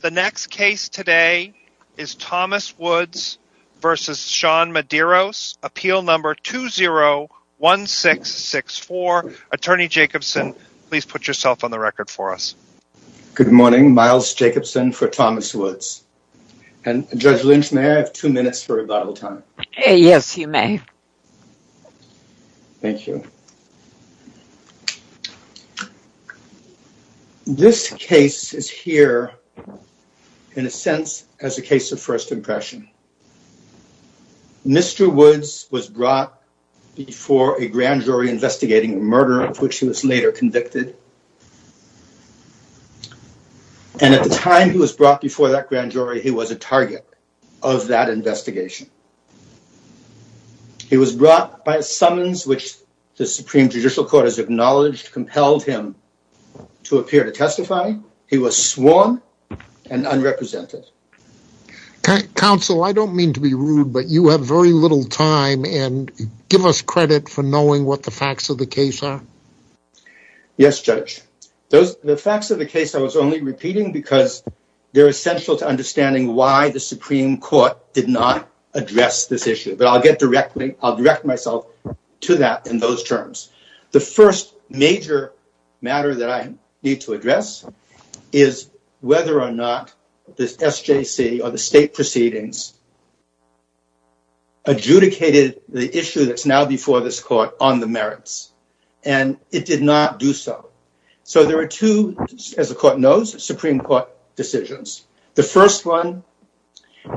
The next case today is Thomas Woods v. Sean Medeiros, Appeal No. 201664. Attorney Jacobson, please put yourself on the record for us. Good morning. Miles Jacobson for Thomas Woods. Judge Lynch, may I have two minutes for rebuttal time? Yes, you may. Thank you. This case is here, in a sense, as a case of first impression. Mr. Woods was brought before a grand jury investigating a murder of which he was later convicted. And at the time he was brought before that grand jury, he was a target of that investigation. He was brought by a summons which the Supreme Judicial Court has acknowledged compelled him to appear to testify. He was sworn and unrepresented. Counsel, I don't mean to be rude, but you have very little time and give us credit for knowing what the facts of the case are. Yes, Judge. The facts of the case, I was only repeating because they're essential to understanding why the Supreme Court did not address this issue. But I'll get directly I'll direct myself to that in those terms. The first major matter that I need to address is whether or not this SJC or the state proceedings. Adjudicated the issue that's now before this court on the merits, and it did not do so. So there are two, as the court knows, Supreme Court decisions. The first one,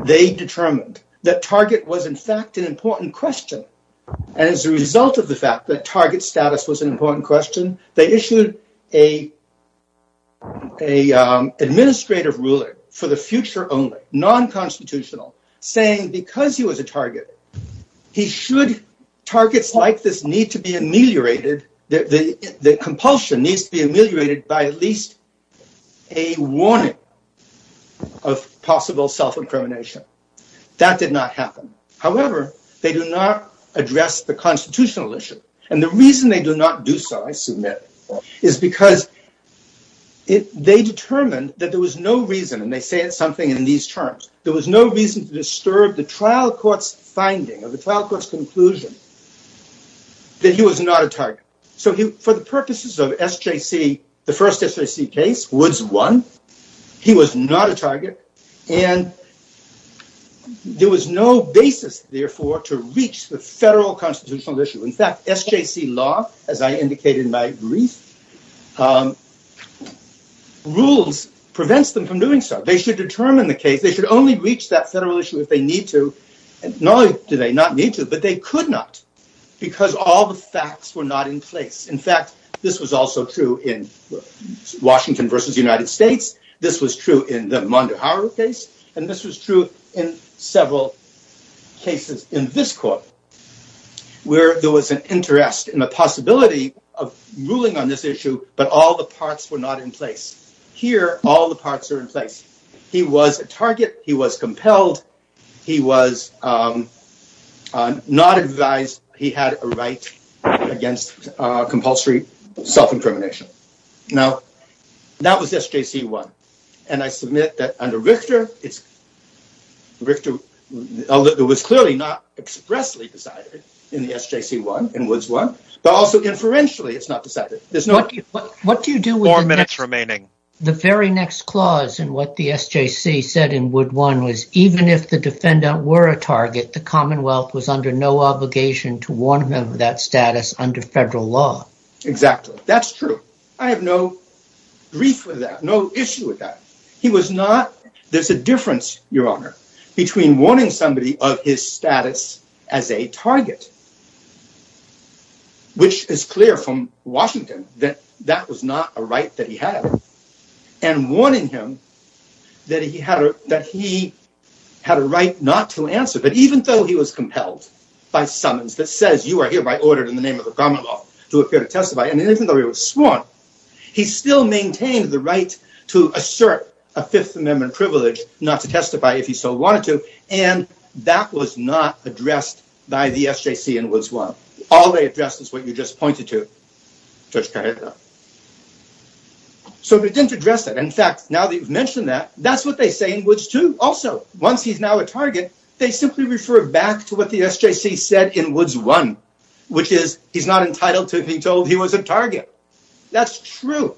they determined that target was, in fact, an important question. And as a result of the fact that target status was an important question, they issued a. A administrative ruling for the future, only non-constitutional, saying because he was a target, he should targets like this need to be ameliorated. The compulsion needs to be ameliorated by at least a warning of possible self-incrimination. That did not happen. However, they do not address the constitutional issue. And the reason they do not do so, I submit, is because they determined that there was no reason. And they say it's something in these terms. There was no reason to disturb the trial court's finding of the trial court's conclusion that he was not a target. So for the purposes of SJC, the first SJC case was one. He was not a target. And there was no basis, therefore, to reach the federal constitutional issue. In fact, SJC law, as I indicated in my brief, rules prevents them from doing so. They should determine the case. They should only reach that federal issue if they need to. Nor do they not need to, but they could not because all the facts were not in place. In fact, this was also true in Washington v. United States. This was true in the Mondeharu case. And this was true in several cases in this court where there was an interest and a possibility of ruling on this issue, but all the parts were not in place. Here, all the parts are in place. He was a target. He was compelled. He was not advised. He had a right against compulsory self-incrimination. Now, that was SJC 1. And I submit that under Richter, it was clearly not expressly decided in the SJC 1, in Woods 1, but also inferentially it's not decided. Four minutes remaining. The very next clause in what the SJC said in Woods 1 was even if the defendant were a target, the Commonwealth was under no obligation to warn him of that status under federal law. Exactly. That's true. I have no grief with that, no issue with that. There's a difference, Your Honor, between warning somebody of his status as a target, which is clear from Washington that that was not a right that he had, and warning him that he had a right not to answer. But even though he was compelled by summons that says you are hereby ordered in the name of the Commonwealth to appear to testify, and even though he was sworn, he still maintained the right to assert a Fifth Amendment privilege not to testify if he so wanted to, and that was not addressed by the SJC in Woods 1. All they addressed is what you just pointed to, Judge Carrera. So they didn't address that. In fact, now that you've mentioned that, that's what they say in Woods 2 also. Once he's now a target, they simply refer back to what the SJC said in Woods 1, which is he's not entitled to be told he was a target. That's true.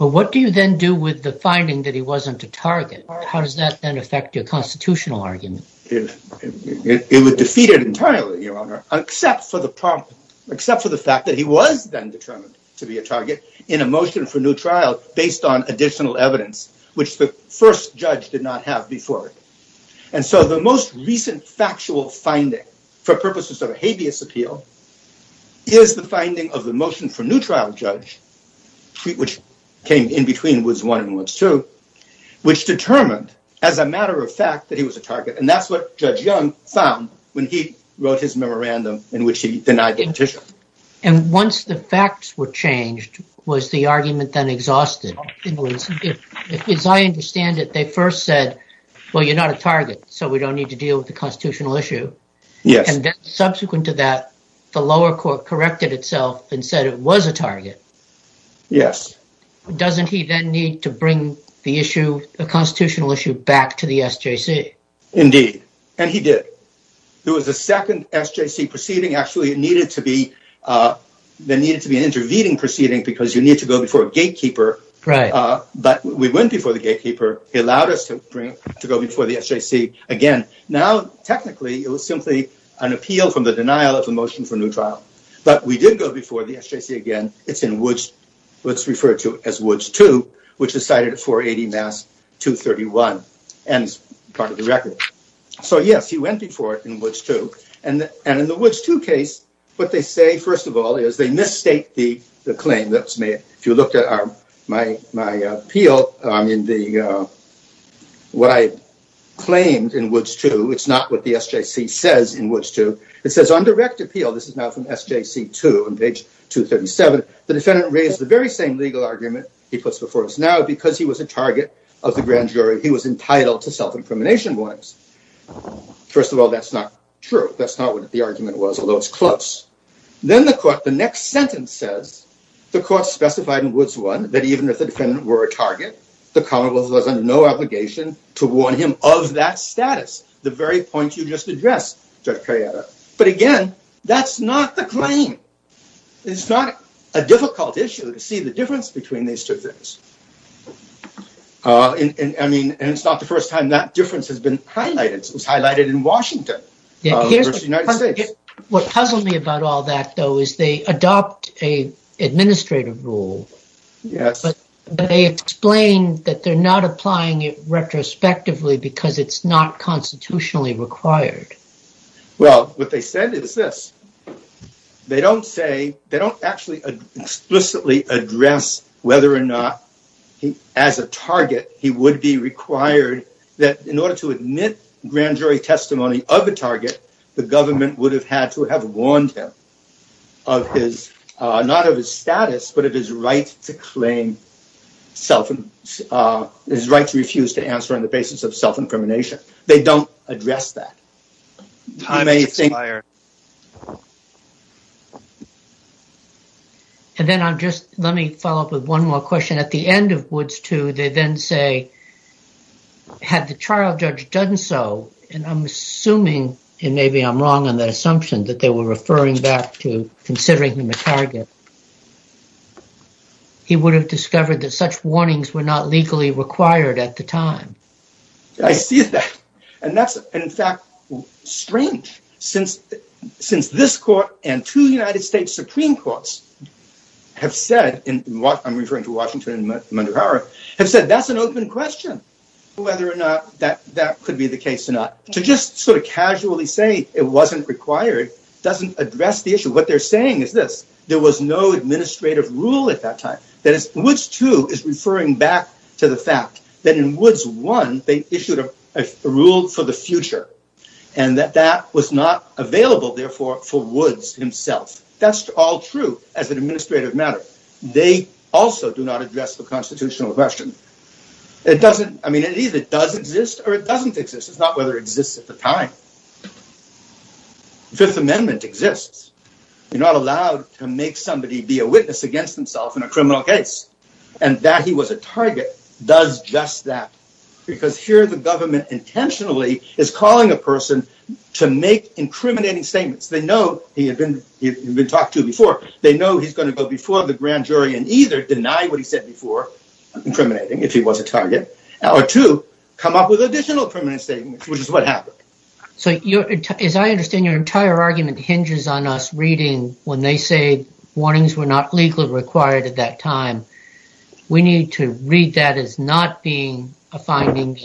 Well, what do you then do with the finding that he wasn't a target? How does that then affect your constitutional argument? It would defeat it entirely, Your Honor, except for the fact that he was then determined to be a target in a motion for new trial based on additional evidence, which the first judge did not have before. And so the most recent factual finding for purposes of habeas appeal is the finding of the motion for new trial judge, which came in between Woods 1 and Woods 2, which determined as a matter of fact that he was a target, and that's what Judge Young found when he wrote his memorandum in which he denied the petition. And once the facts were changed, was the argument then exhausted? In Woods, as I understand it, they first said, well, you're not a target, so we don't need to deal with the constitutional issue. Yes. And then subsequent to that, the lower court corrected itself and said it was a target. Yes. Doesn't he then need to bring the issue, the constitutional issue, back to the SJC? Indeed. And he did. There was a second SJC proceeding. Actually, it needed to be there needed to be an intervening proceeding because you need to go before a gatekeeper. Right. But we went before the gatekeeper. He allowed us to bring to go before the SJC again. Now, technically, it was simply an appeal from the denial of a motion for new trial. But we did go before the SJC again. It's in Woods. Let's refer to as Woods 2, which is cited at 480 Mass 231 and part of the record. So, yes, he went before it in Woods 2. And in the Woods 2 case, what they say, first of all, is they misstate the claim that's made. If you looked at my appeal, what I claimed in Woods 2, it's not what the SJC says in Woods 2. It says on direct appeal, this is now from SJC 2 on page 237, the defendant raised the very same legal argument he puts before us now because he was a target of the grand jury. He was entitled to self-incrimination warnings. First of all, that's not true. That's not what the argument was, although it's close. Then the court, the next sentence says the court specified in Woods 1 that even if the defendant were a target, the commonwealth was under no obligation to warn him of that status. The very point you just addressed, Judge Carriata. But again, that's not the claim. It's not a difficult issue to see the difference between these two things. And it's not the first time that difference has been highlighted. It was highlighted in Washington versus the United States. What puzzled me about all that, though, is they adopt an administrative rule. Yes. But they explain that they're not applying it retrospectively because it's not constitutionally required. Well, what they said is this. They don't say they don't actually explicitly address whether or not he as a target, he would be required that in order to admit grand jury testimony of a target, the government would have had to have warned him of his not of his status, but of his right to claim self and his right to refuse to answer on the basis of self-incrimination. They don't address that. Time expired. And then I'm just let me follow up with one more question. At the end of Woods 2, they then say, had the trial judge done so, and I'm assuming and maybe I'm wrong on that assumption that they were referring back to considering him a target. He would have discovered that such warnings were not legally required at the time. I see that. And that's, in fact, strange since since this court and two United States Supreme Courts have said in what I'm referring to, Washington and Mundurahara, have said that's an open question whether or not that that could be the case or not. To just sort of casually say it wasn't required doesn't address the issue. What they're saying is this. There was no administrative rule at that time. That is, Woods 2 is referring back to the fact that in Woods 1, they issued a rule for the future and that that was not available, therefore, for Woods himself. That's all true as an administrative matter. They also do not address the constitutional question. It doesn't. I mean, it either does exist or it doesn't exist. It's not whether it exists at the time. Fifth Amendment exists. You're not allowed to make somebody be a witness against himself in a criminal case and that he was a target does just that because here the government intentionally is calling a person to make incriminating statements. They know he had been talked to before. They know he's going to go before the grand jury and either deny what he said before incriminating if he was a target or to come up with additional permanent statements, which is what happened. So, as I understand, your entire argument hinges on us reading when they say warnings were not legally required at that time. We need to read that as not being a finding.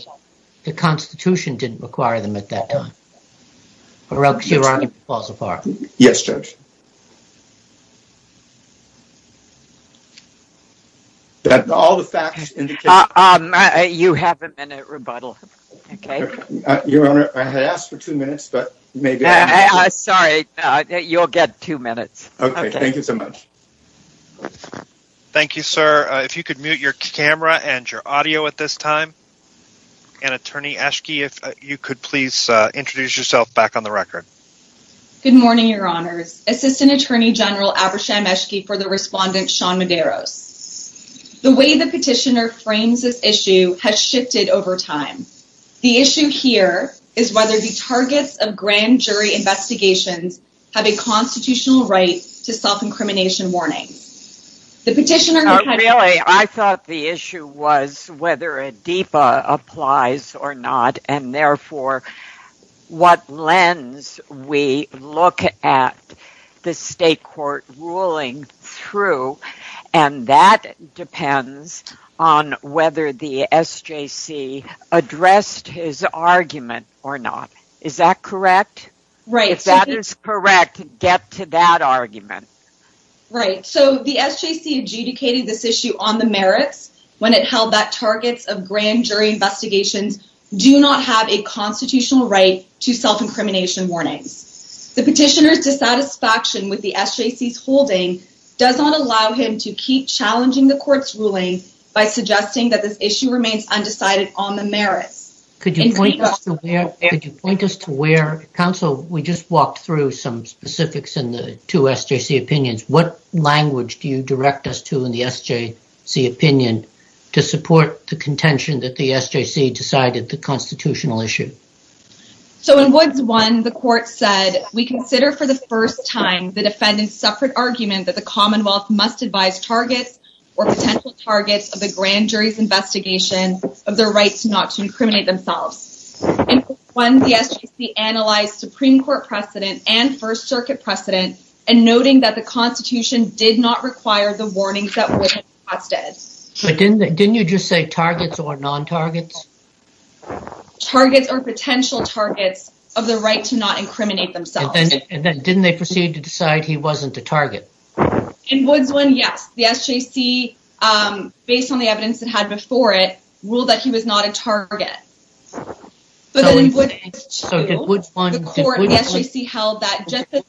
The Constitution didn't require them at that time. Or else your argument falls apart. Yes, Judge. That's all the facts. You have a minute rebuttal. Your Honor, I had asked for two minutes, but maybe. Sorry, you'll get two minutes. Okay, thank you so much. Thank you, sir. If you could mute your camera and your audio at this time. And Attorney Eschke, if you could please introduce yourself back on the record. Good morning, Your Honors. Assistant Attorney General Abersham Eschke for the respondent Sean Medeiros. The way the petitioner frames this issue has shifted over time. The issue here is whether the targets of grand jury investigations have a constitutional right to self-incrimination warnings. Really, I thought the issue was whether a DEPA applies or not. And therefore, what lens we look at the state court ruling through. And that depends on whether the SJC addressed his argument or not. Is that correct? If that is correct, get to that argument. Right. So the SJC adjudicated this issue on the merits when it held that targets of grand jury investigations do not have a constitutional right to self-incrimination warnings. The petitioner's dissatisfaction with the SJC's holding does not allow him to keep challenging the court's ruling by suggesting that this issue remains undecided on the merits. Could you point us to where? Counsel, we just walked through some specifics in the two SJC opinions. What language do you direct us to in the SJC opinion to support the contention that the SJC decided the constitutional issue? So in Woods 1, the court said, We consider for the first time the defendant's separate argument that the Commonwealth must advise targets or potential targets of the grand jury's investigation of their rights not to incriminate themselves. In Woods 1, the SJC analyzed Supreme Court precedent and First Circuit precedent and noting that the Constitution did not require the warnings that Woods requested. Didn't you just say targets or non-targets? Targets or potential targets of the right to not incriminate themselves. And then didn't they proceed to decide he wasn't a target? In Woods 1, yes. The SJC, based on the evidence it had before it, ruled that he was not a target. So in Woods 2, the court and the SJC held that just the...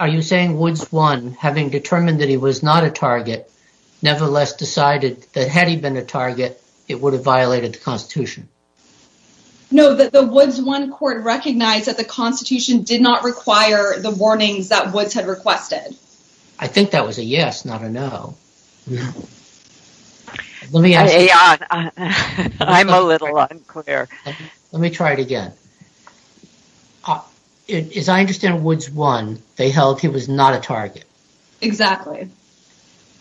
Are you saying Woods 1, having determined that he was not a target, nevertheless decided that had he been a target, it would have violated the Constitution? No, that the Woods 1 court recognized that the Constitution did not require the warnings that Woods had requested. I think that was a yes, not a no. I'm a little unclear. Let me try it again. As I understand Woods 1, they held he was not a target. Exactly.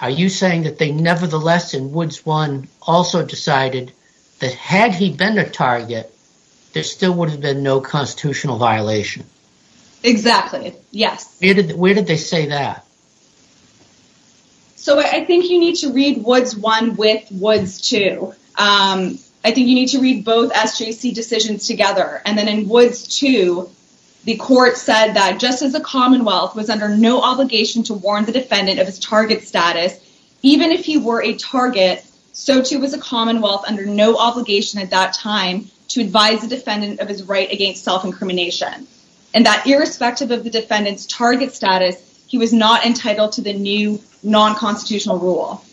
Are you saying that they nevertheless, in Woods 1, also decided that had he been a target, there still would have been no constitutional violation? Exactly, yes. Where did they say that? So I think you need to read Woods 1 with Woods 2. I think you need to read both SJC decisions together. And then in Woods 2, the court said that just as the Commonwealth was under no obligation to warn the defendant of his target status, even if he were a target, so too was the Commonwealth under no obligation at that time to advise the defendant of his right against self-incrimination. And that irrespective of the defendant's target status, he was not entitled to the new non-constitutional rule.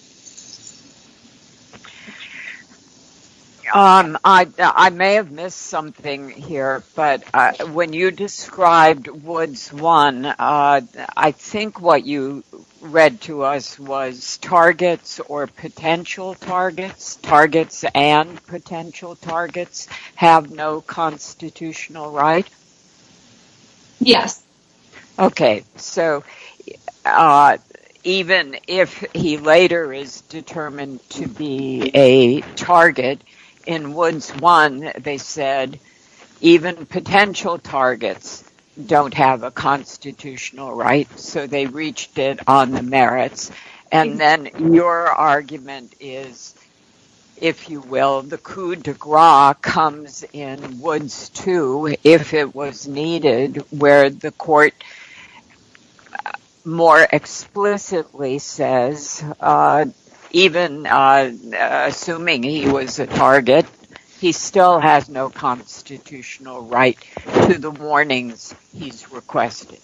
I may have missed something here, but when you described Woods 1, I think what you read to us was targets or potential targets. Targets and potential targets have no constitutional right? Yes. Okay, so even if he later is determined to be a target, in Woods 1, they said even potential targets don't have a constitutional right, so they reached it on the merits. And then your argument is, if you will, the coup de grace comes in Woods 2, if it was needed, where the court more explicitly says, even assuming he was a target, he still has no constitutional right to the warnings he's requested.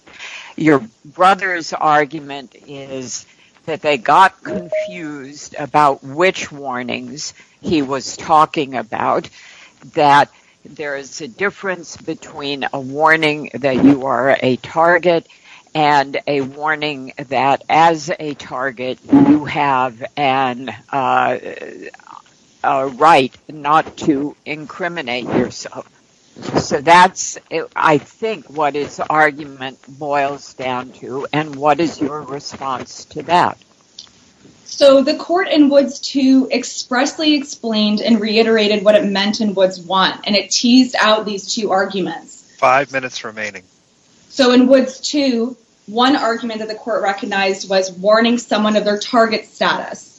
Your brother's argument is that they got confused about which warnings he was talking about, that there is a difference between a warning that you are a target and a warning that as a target you have a right not to incriminate yourself. So that's, I think, what his argument boils down to, and what is your response to that? So the court in Woods 2 expressly explained and reiterated what it meant in Woods 1, and it teased out these two arguments. Five minutes remaining. So in Woods 2, one argument that the court recognized was warning someone of their target status.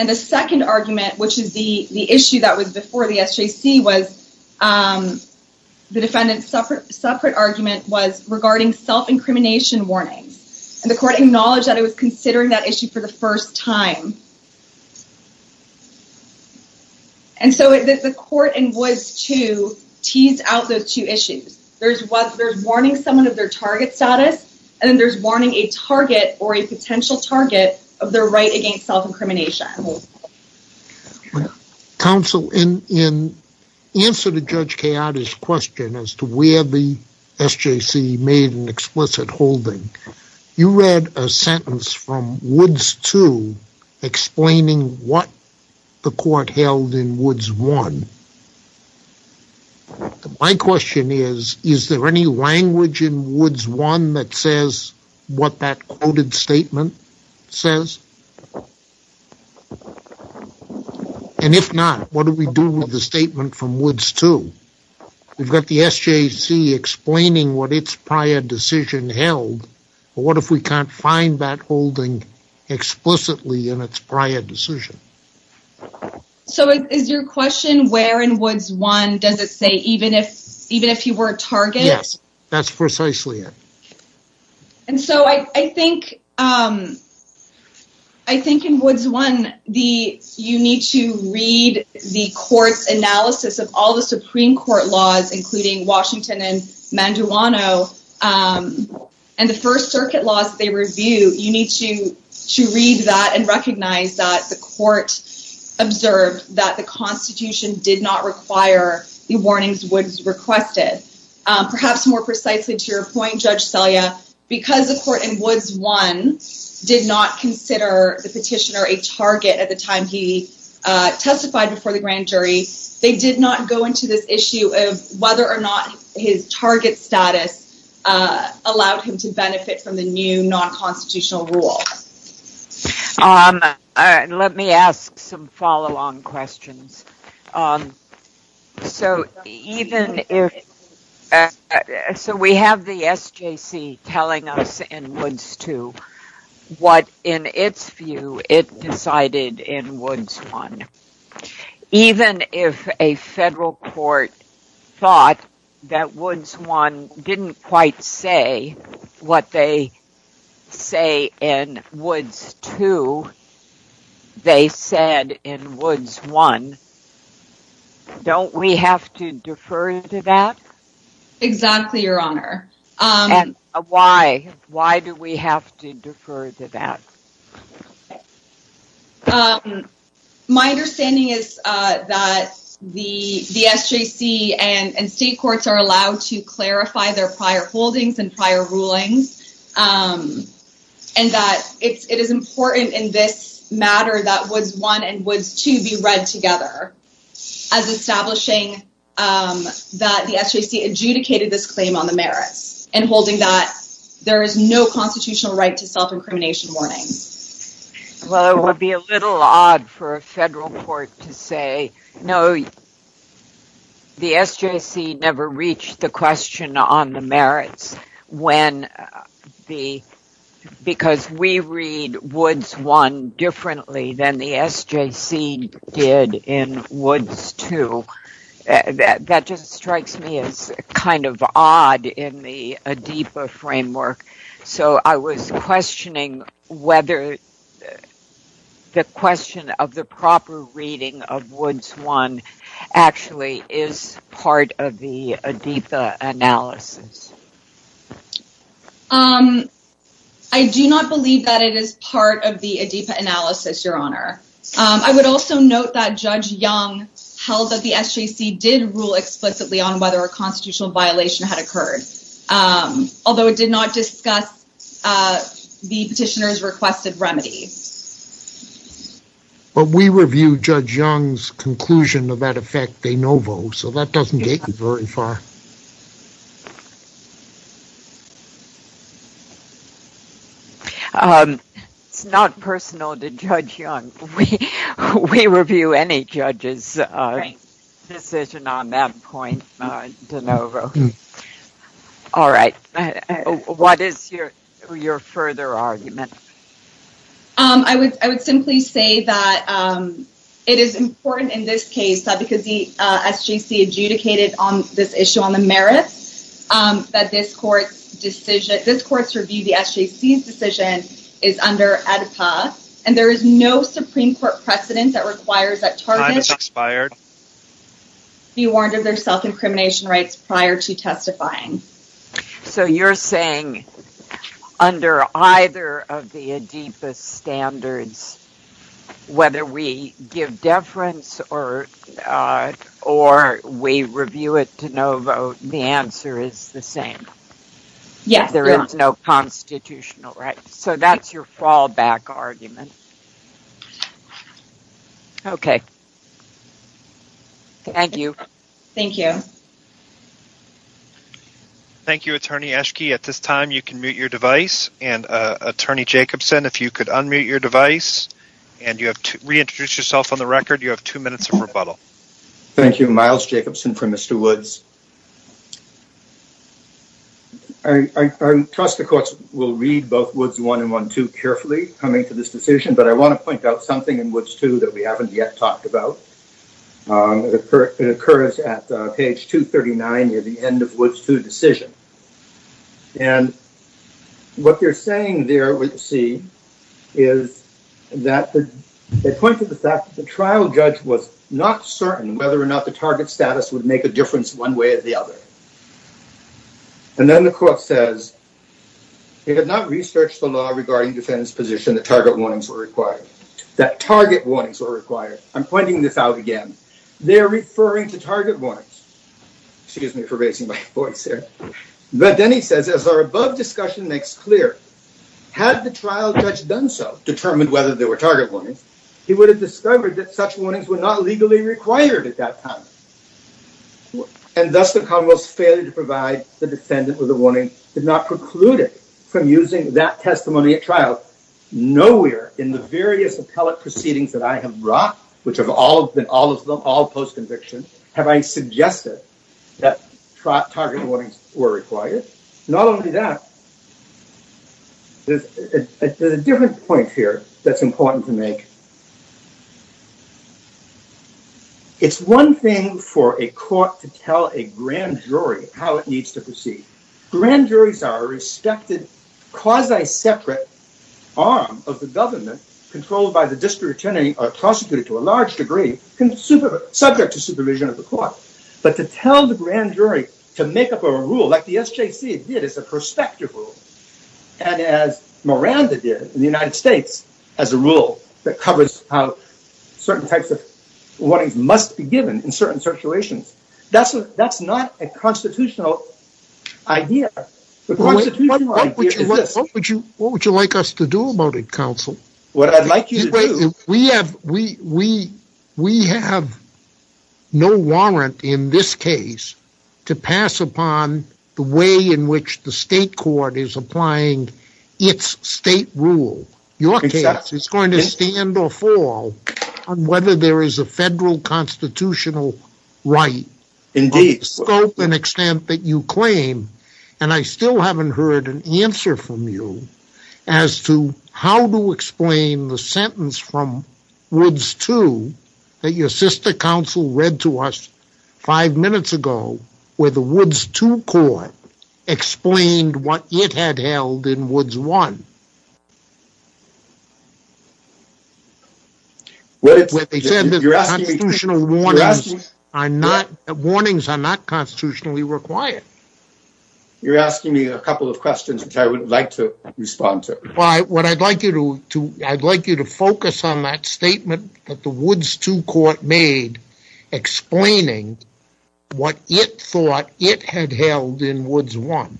And the second argument, which is the issue that was before the SJC, the defendant's separate argument was regarding self-incrimination warnings. And the court acknowledged that it was considering that issue for the first time. And so the court in Woods 2 teased out those two issues. There's warning someone of their target status, and then there's warning a target, or a potential target, of their right against self-incrimination. Counsel, in answer to Judge Chioda's question as to where the SJC made an explicit holding, you read a sentence from Woods 2 explaining what the court held in Woods 1. My question is, is there any language in Woods 1 that says what that quoted statement says? And if not, what do we do with the statement from Woods 2? We've got the SJC explaining what its prior decision held, but what if we can't find that holding explicitly in its prior decision? So is your question, where in Woods 1 does it say, even if you were a target? Yes, that's precisely it. And so I think in Woods 1, you need to read the court's analysis of all the Supreme Court laws, including Washington and Manduano, and the First Circuit laws that they review. You need to read that and recognize that the court observed that the Constitution did not require the warnings Woods requested. Perhaps more precisely to your point, Judge Selya, because the court in Woods 1 did not consider the petitioner a target at the time he testified before the grand jury, they did not go into this issue of whether or not his target status allowed him to benefit from the new non-constitutional rule. Let me ask some follow-on questions. So we have the SJC telling us in Woods 2 what, in its view, it decided in Woods 1. Even if a federal court thought that Woods 1 didn't quite say what they say in Woods 2, they said in Woods 1. Don't we have to defer to that? Exactly, Your Honor. And why? Why do we have to defer to that? My understanding is that the SJC and state courts are allowed to clarify their prior holdings and prior rulings, and that it is important in this matter that Woods 1 and Woods 2 be read together as establishing that the SJC adjudicated this claim on the merits and holding that there is no constitutional right to self-incrimination warning. Well, it would be a little odd for a federal court to say, no, the SJC never reached the question on the merits because we read Woods 1 differently than the SJC did in Woods 2. That just strikes me as kind of odd in the ADEPA framework. So I was questioning whether the question of the proper reading of Woods 1 actually is part of the ADEPA analysis. I do not believe that it is part of the ADEPA analysis, Your Honor. I would also note that Judge Young held that the SJC did rule explicitly on whether a constitutional violation had occurred, although it did not discuss the petitioner's requested remedy. But we reviewed Judge Young's conclusion of that effect de novo, so that doesn't get you very far. It's not personal to Judge Young. We review any judge's decision on that point de novo. All right. What is your further argument? I would simply say that it is important in this case, because the SJC adjudicated on this issue on the merits, that this court's review of the SJC's decision is under ADEPA, and there is no Supreme Court precedent that requires that targets be warned of their self-incrimination rights prior to testifying. So you're saying under either of the ADEPA standards, whether we give deference or we review it de novo, the answer is the same? Yes. There is no constitutional right. So that's your fallback argument. Okay. Thank you. Thank you. Thank you, Attorney Eschke. At this time, you can mute your device, and Attorney Jacobson, if you could unmute your device and reintroduce yourself on the record, you have two minutes of rebuttal. Thank you. Myles Jacobson for Mr. Woods. I trust the courts will read both Woods 1 and Woods 2 carefully coming to this decision, but I want to point out something in Woods 2 that we haven't yet talked about. It occurs at page 239 near the end of Woods 2 decision. And what they're saying there with C is that they point to the fact that the trial judge was not certain whether or not the target status would make a difference one way or the other. And then the court says, it had not researched the law regarding defendant's position that target warnings were required. That target warnings were required. I'm pointing this out again. They're referring to target warnings. Excuse me for raising my voice here. But then he says, as our above discussion makes clear, had the trial judge done so, determined whether there were target warnings, he would have discovered that such warnings were not legally required at that time. And thus the Commonwealth's failure to provide the defendant with a warning did not preclude it from using that testimony at trial. Nowhere in the various appellate proceedings that I have brought, which have all been all of them all post-conviction, have I suggested that target warnings were required. Not only that, there's a different point here that's important to make. It's one thing for a court to tell a grand jury how it needs to proceed. Grand juries are a respected quasi-separate arm of the government controlled by the district attorney or prosecuted to a large degree, subject to supervision of the court. But to tell the grand jury to make up a rule like the SJC did, it's a prospective rule. And as Miranda did in the United States, as a rule that covers how certain types of warnings must be given in certain situations. That's not a constitutional idea. The constitutional idea is this. What would you like us to do about it, counsel? What I'd like you to do. We have no warrant in this case to pass upon the way in which the state court is applying its state rule. Your case is going to stand or fall on whether there is a federal constitutional right. Indeed. Of the scope and extent that you claim. And I still haven't heard an answer from you as to how to explain the sentence from Woods 2 that your sister counsel read to us five minutes ago, where the Woods 2 court explained what it had held in Woods 1. They said that the constitutional warnings are not constitutionally required. You're asking me a couple of questions which I would like to respond to. I'd like you to focus on that statement that the Woods 2 court made, explaining what it thought it had held in Woods 1.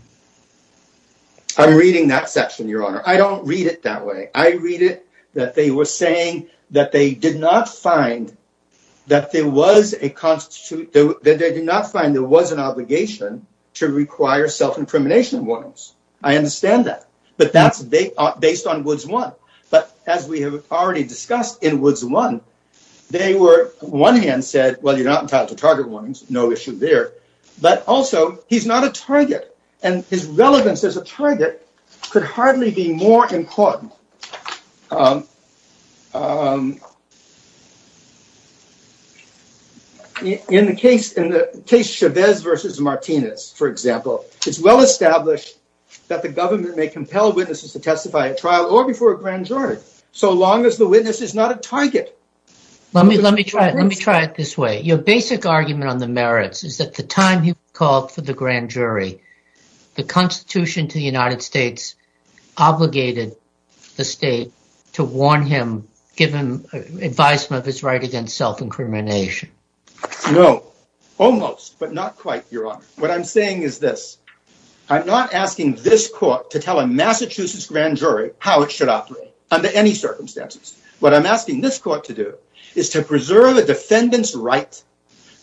I'm reading that section, Your Honor. I don't read it that way. I read it that they were saying that they did not find that there was an obligation to require self-incrimination warnings. I understand that. But that's based on Woods 1. But as we have already discussed in Woods 1, they were on one hand said, well, you're not entitled to target warnings. No issue there. But also, he's not a target. And his relevance as a target could hardly be more important. In the case Chavez versus Martinez, for example, it's well established that the government may compel witnesses to testify at trial or before a grand jury, so long as the witness is not a target. Let me try it this way. Your basic argument on the merits is that the time he called for the grand jury, the Constitution to the United States obligated the state to warn him, give him advisement of his right against self-incrimination. No, almost, but not quite, Your Honor. What I'm saying is this. I'm not asking this court to tell a Massachusetts grand jury how it should operate under any circumstances. What I'm asking this court to do is to preserve a defendant's right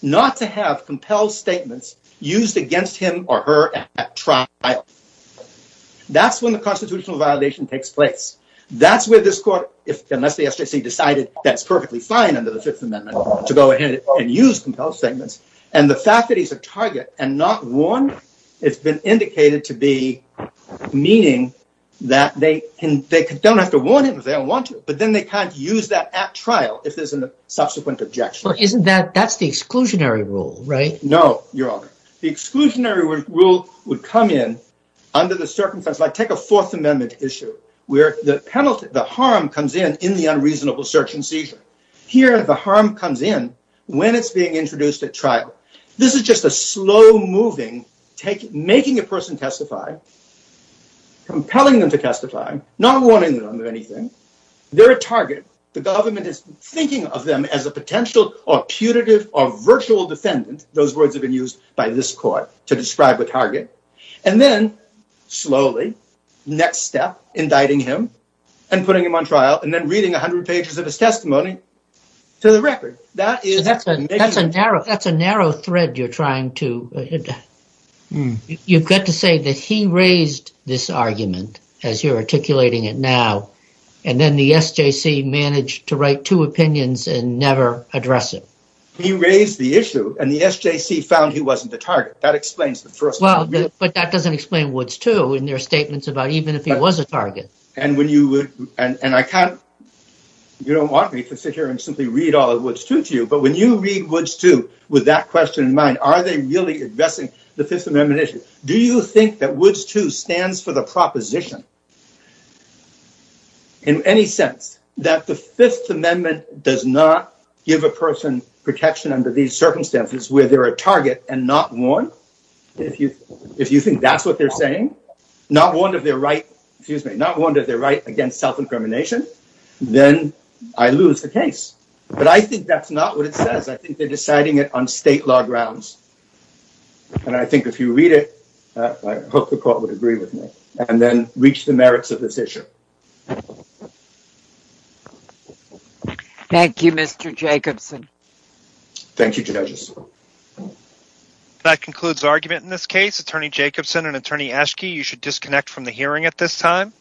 not to have compelled statements used against him or her at trial. That's when the constitutional violation takes place. That's where this court, unless the SJC decided that's perfectly fine under the Fifth Amendment to go ahead and use compelled statements. And the fact that he's a target and not warned has been indicated to be meaning that they don't have to warn him if they don't want to. But then they can't use that at trial if there's a subsequent objection. That's the exclusionary rule, right? No, Your Honor. The exclusionary rule would come in under the circumstances. Take a Fourth Amendment issue where the harm comes in in the unreasonable search and seizure. Here the harm comes in when it's being introduced at trial. This is just a slow-moving, making a person testify, compelling them to testify, not warning them of anything. They're a target. The government is thinking of them as a potential or putative or virtual defendant. Those words have been used by this court to describe the target. And then slowly, next step, indicting him and putting him on trial and then reading 100 pages of his testimony to the record. That's a narrow thread you're trying to… You've got to say that he raised this argument, as you're articulating it now, and then the SJC managed to write two opinions and never address it. He raised the issue and the SJC found he wasn't the target. That explains the first… Well, but that doesn't explain Woods too in their statements about even if he was a target. And I can't… You don't want me to sit here and simply read all of Woods too to you. But when you read Woods too with that question in mind, are they really addressing the Fifth Amendment issue? Do you think that Woods too stands for the proposition in any sense that the Fifth Amendment does not give a person protection under these circumstances where they're a target and not warned? If you think that's what they're saying, not warned of their right against self-incrimination, then I lose the case. But I think that's not what it says. I think they're deciding it on state law grounds. And I think if you read it, I hope the court would agree with me and then reach the merits of this issue. Thank you, Mr. Jacobson. Thank you, judges. That concludes argument in this case. Attorney Jacobson and Attorney Eschke, you should disconnect from the hearing at this time.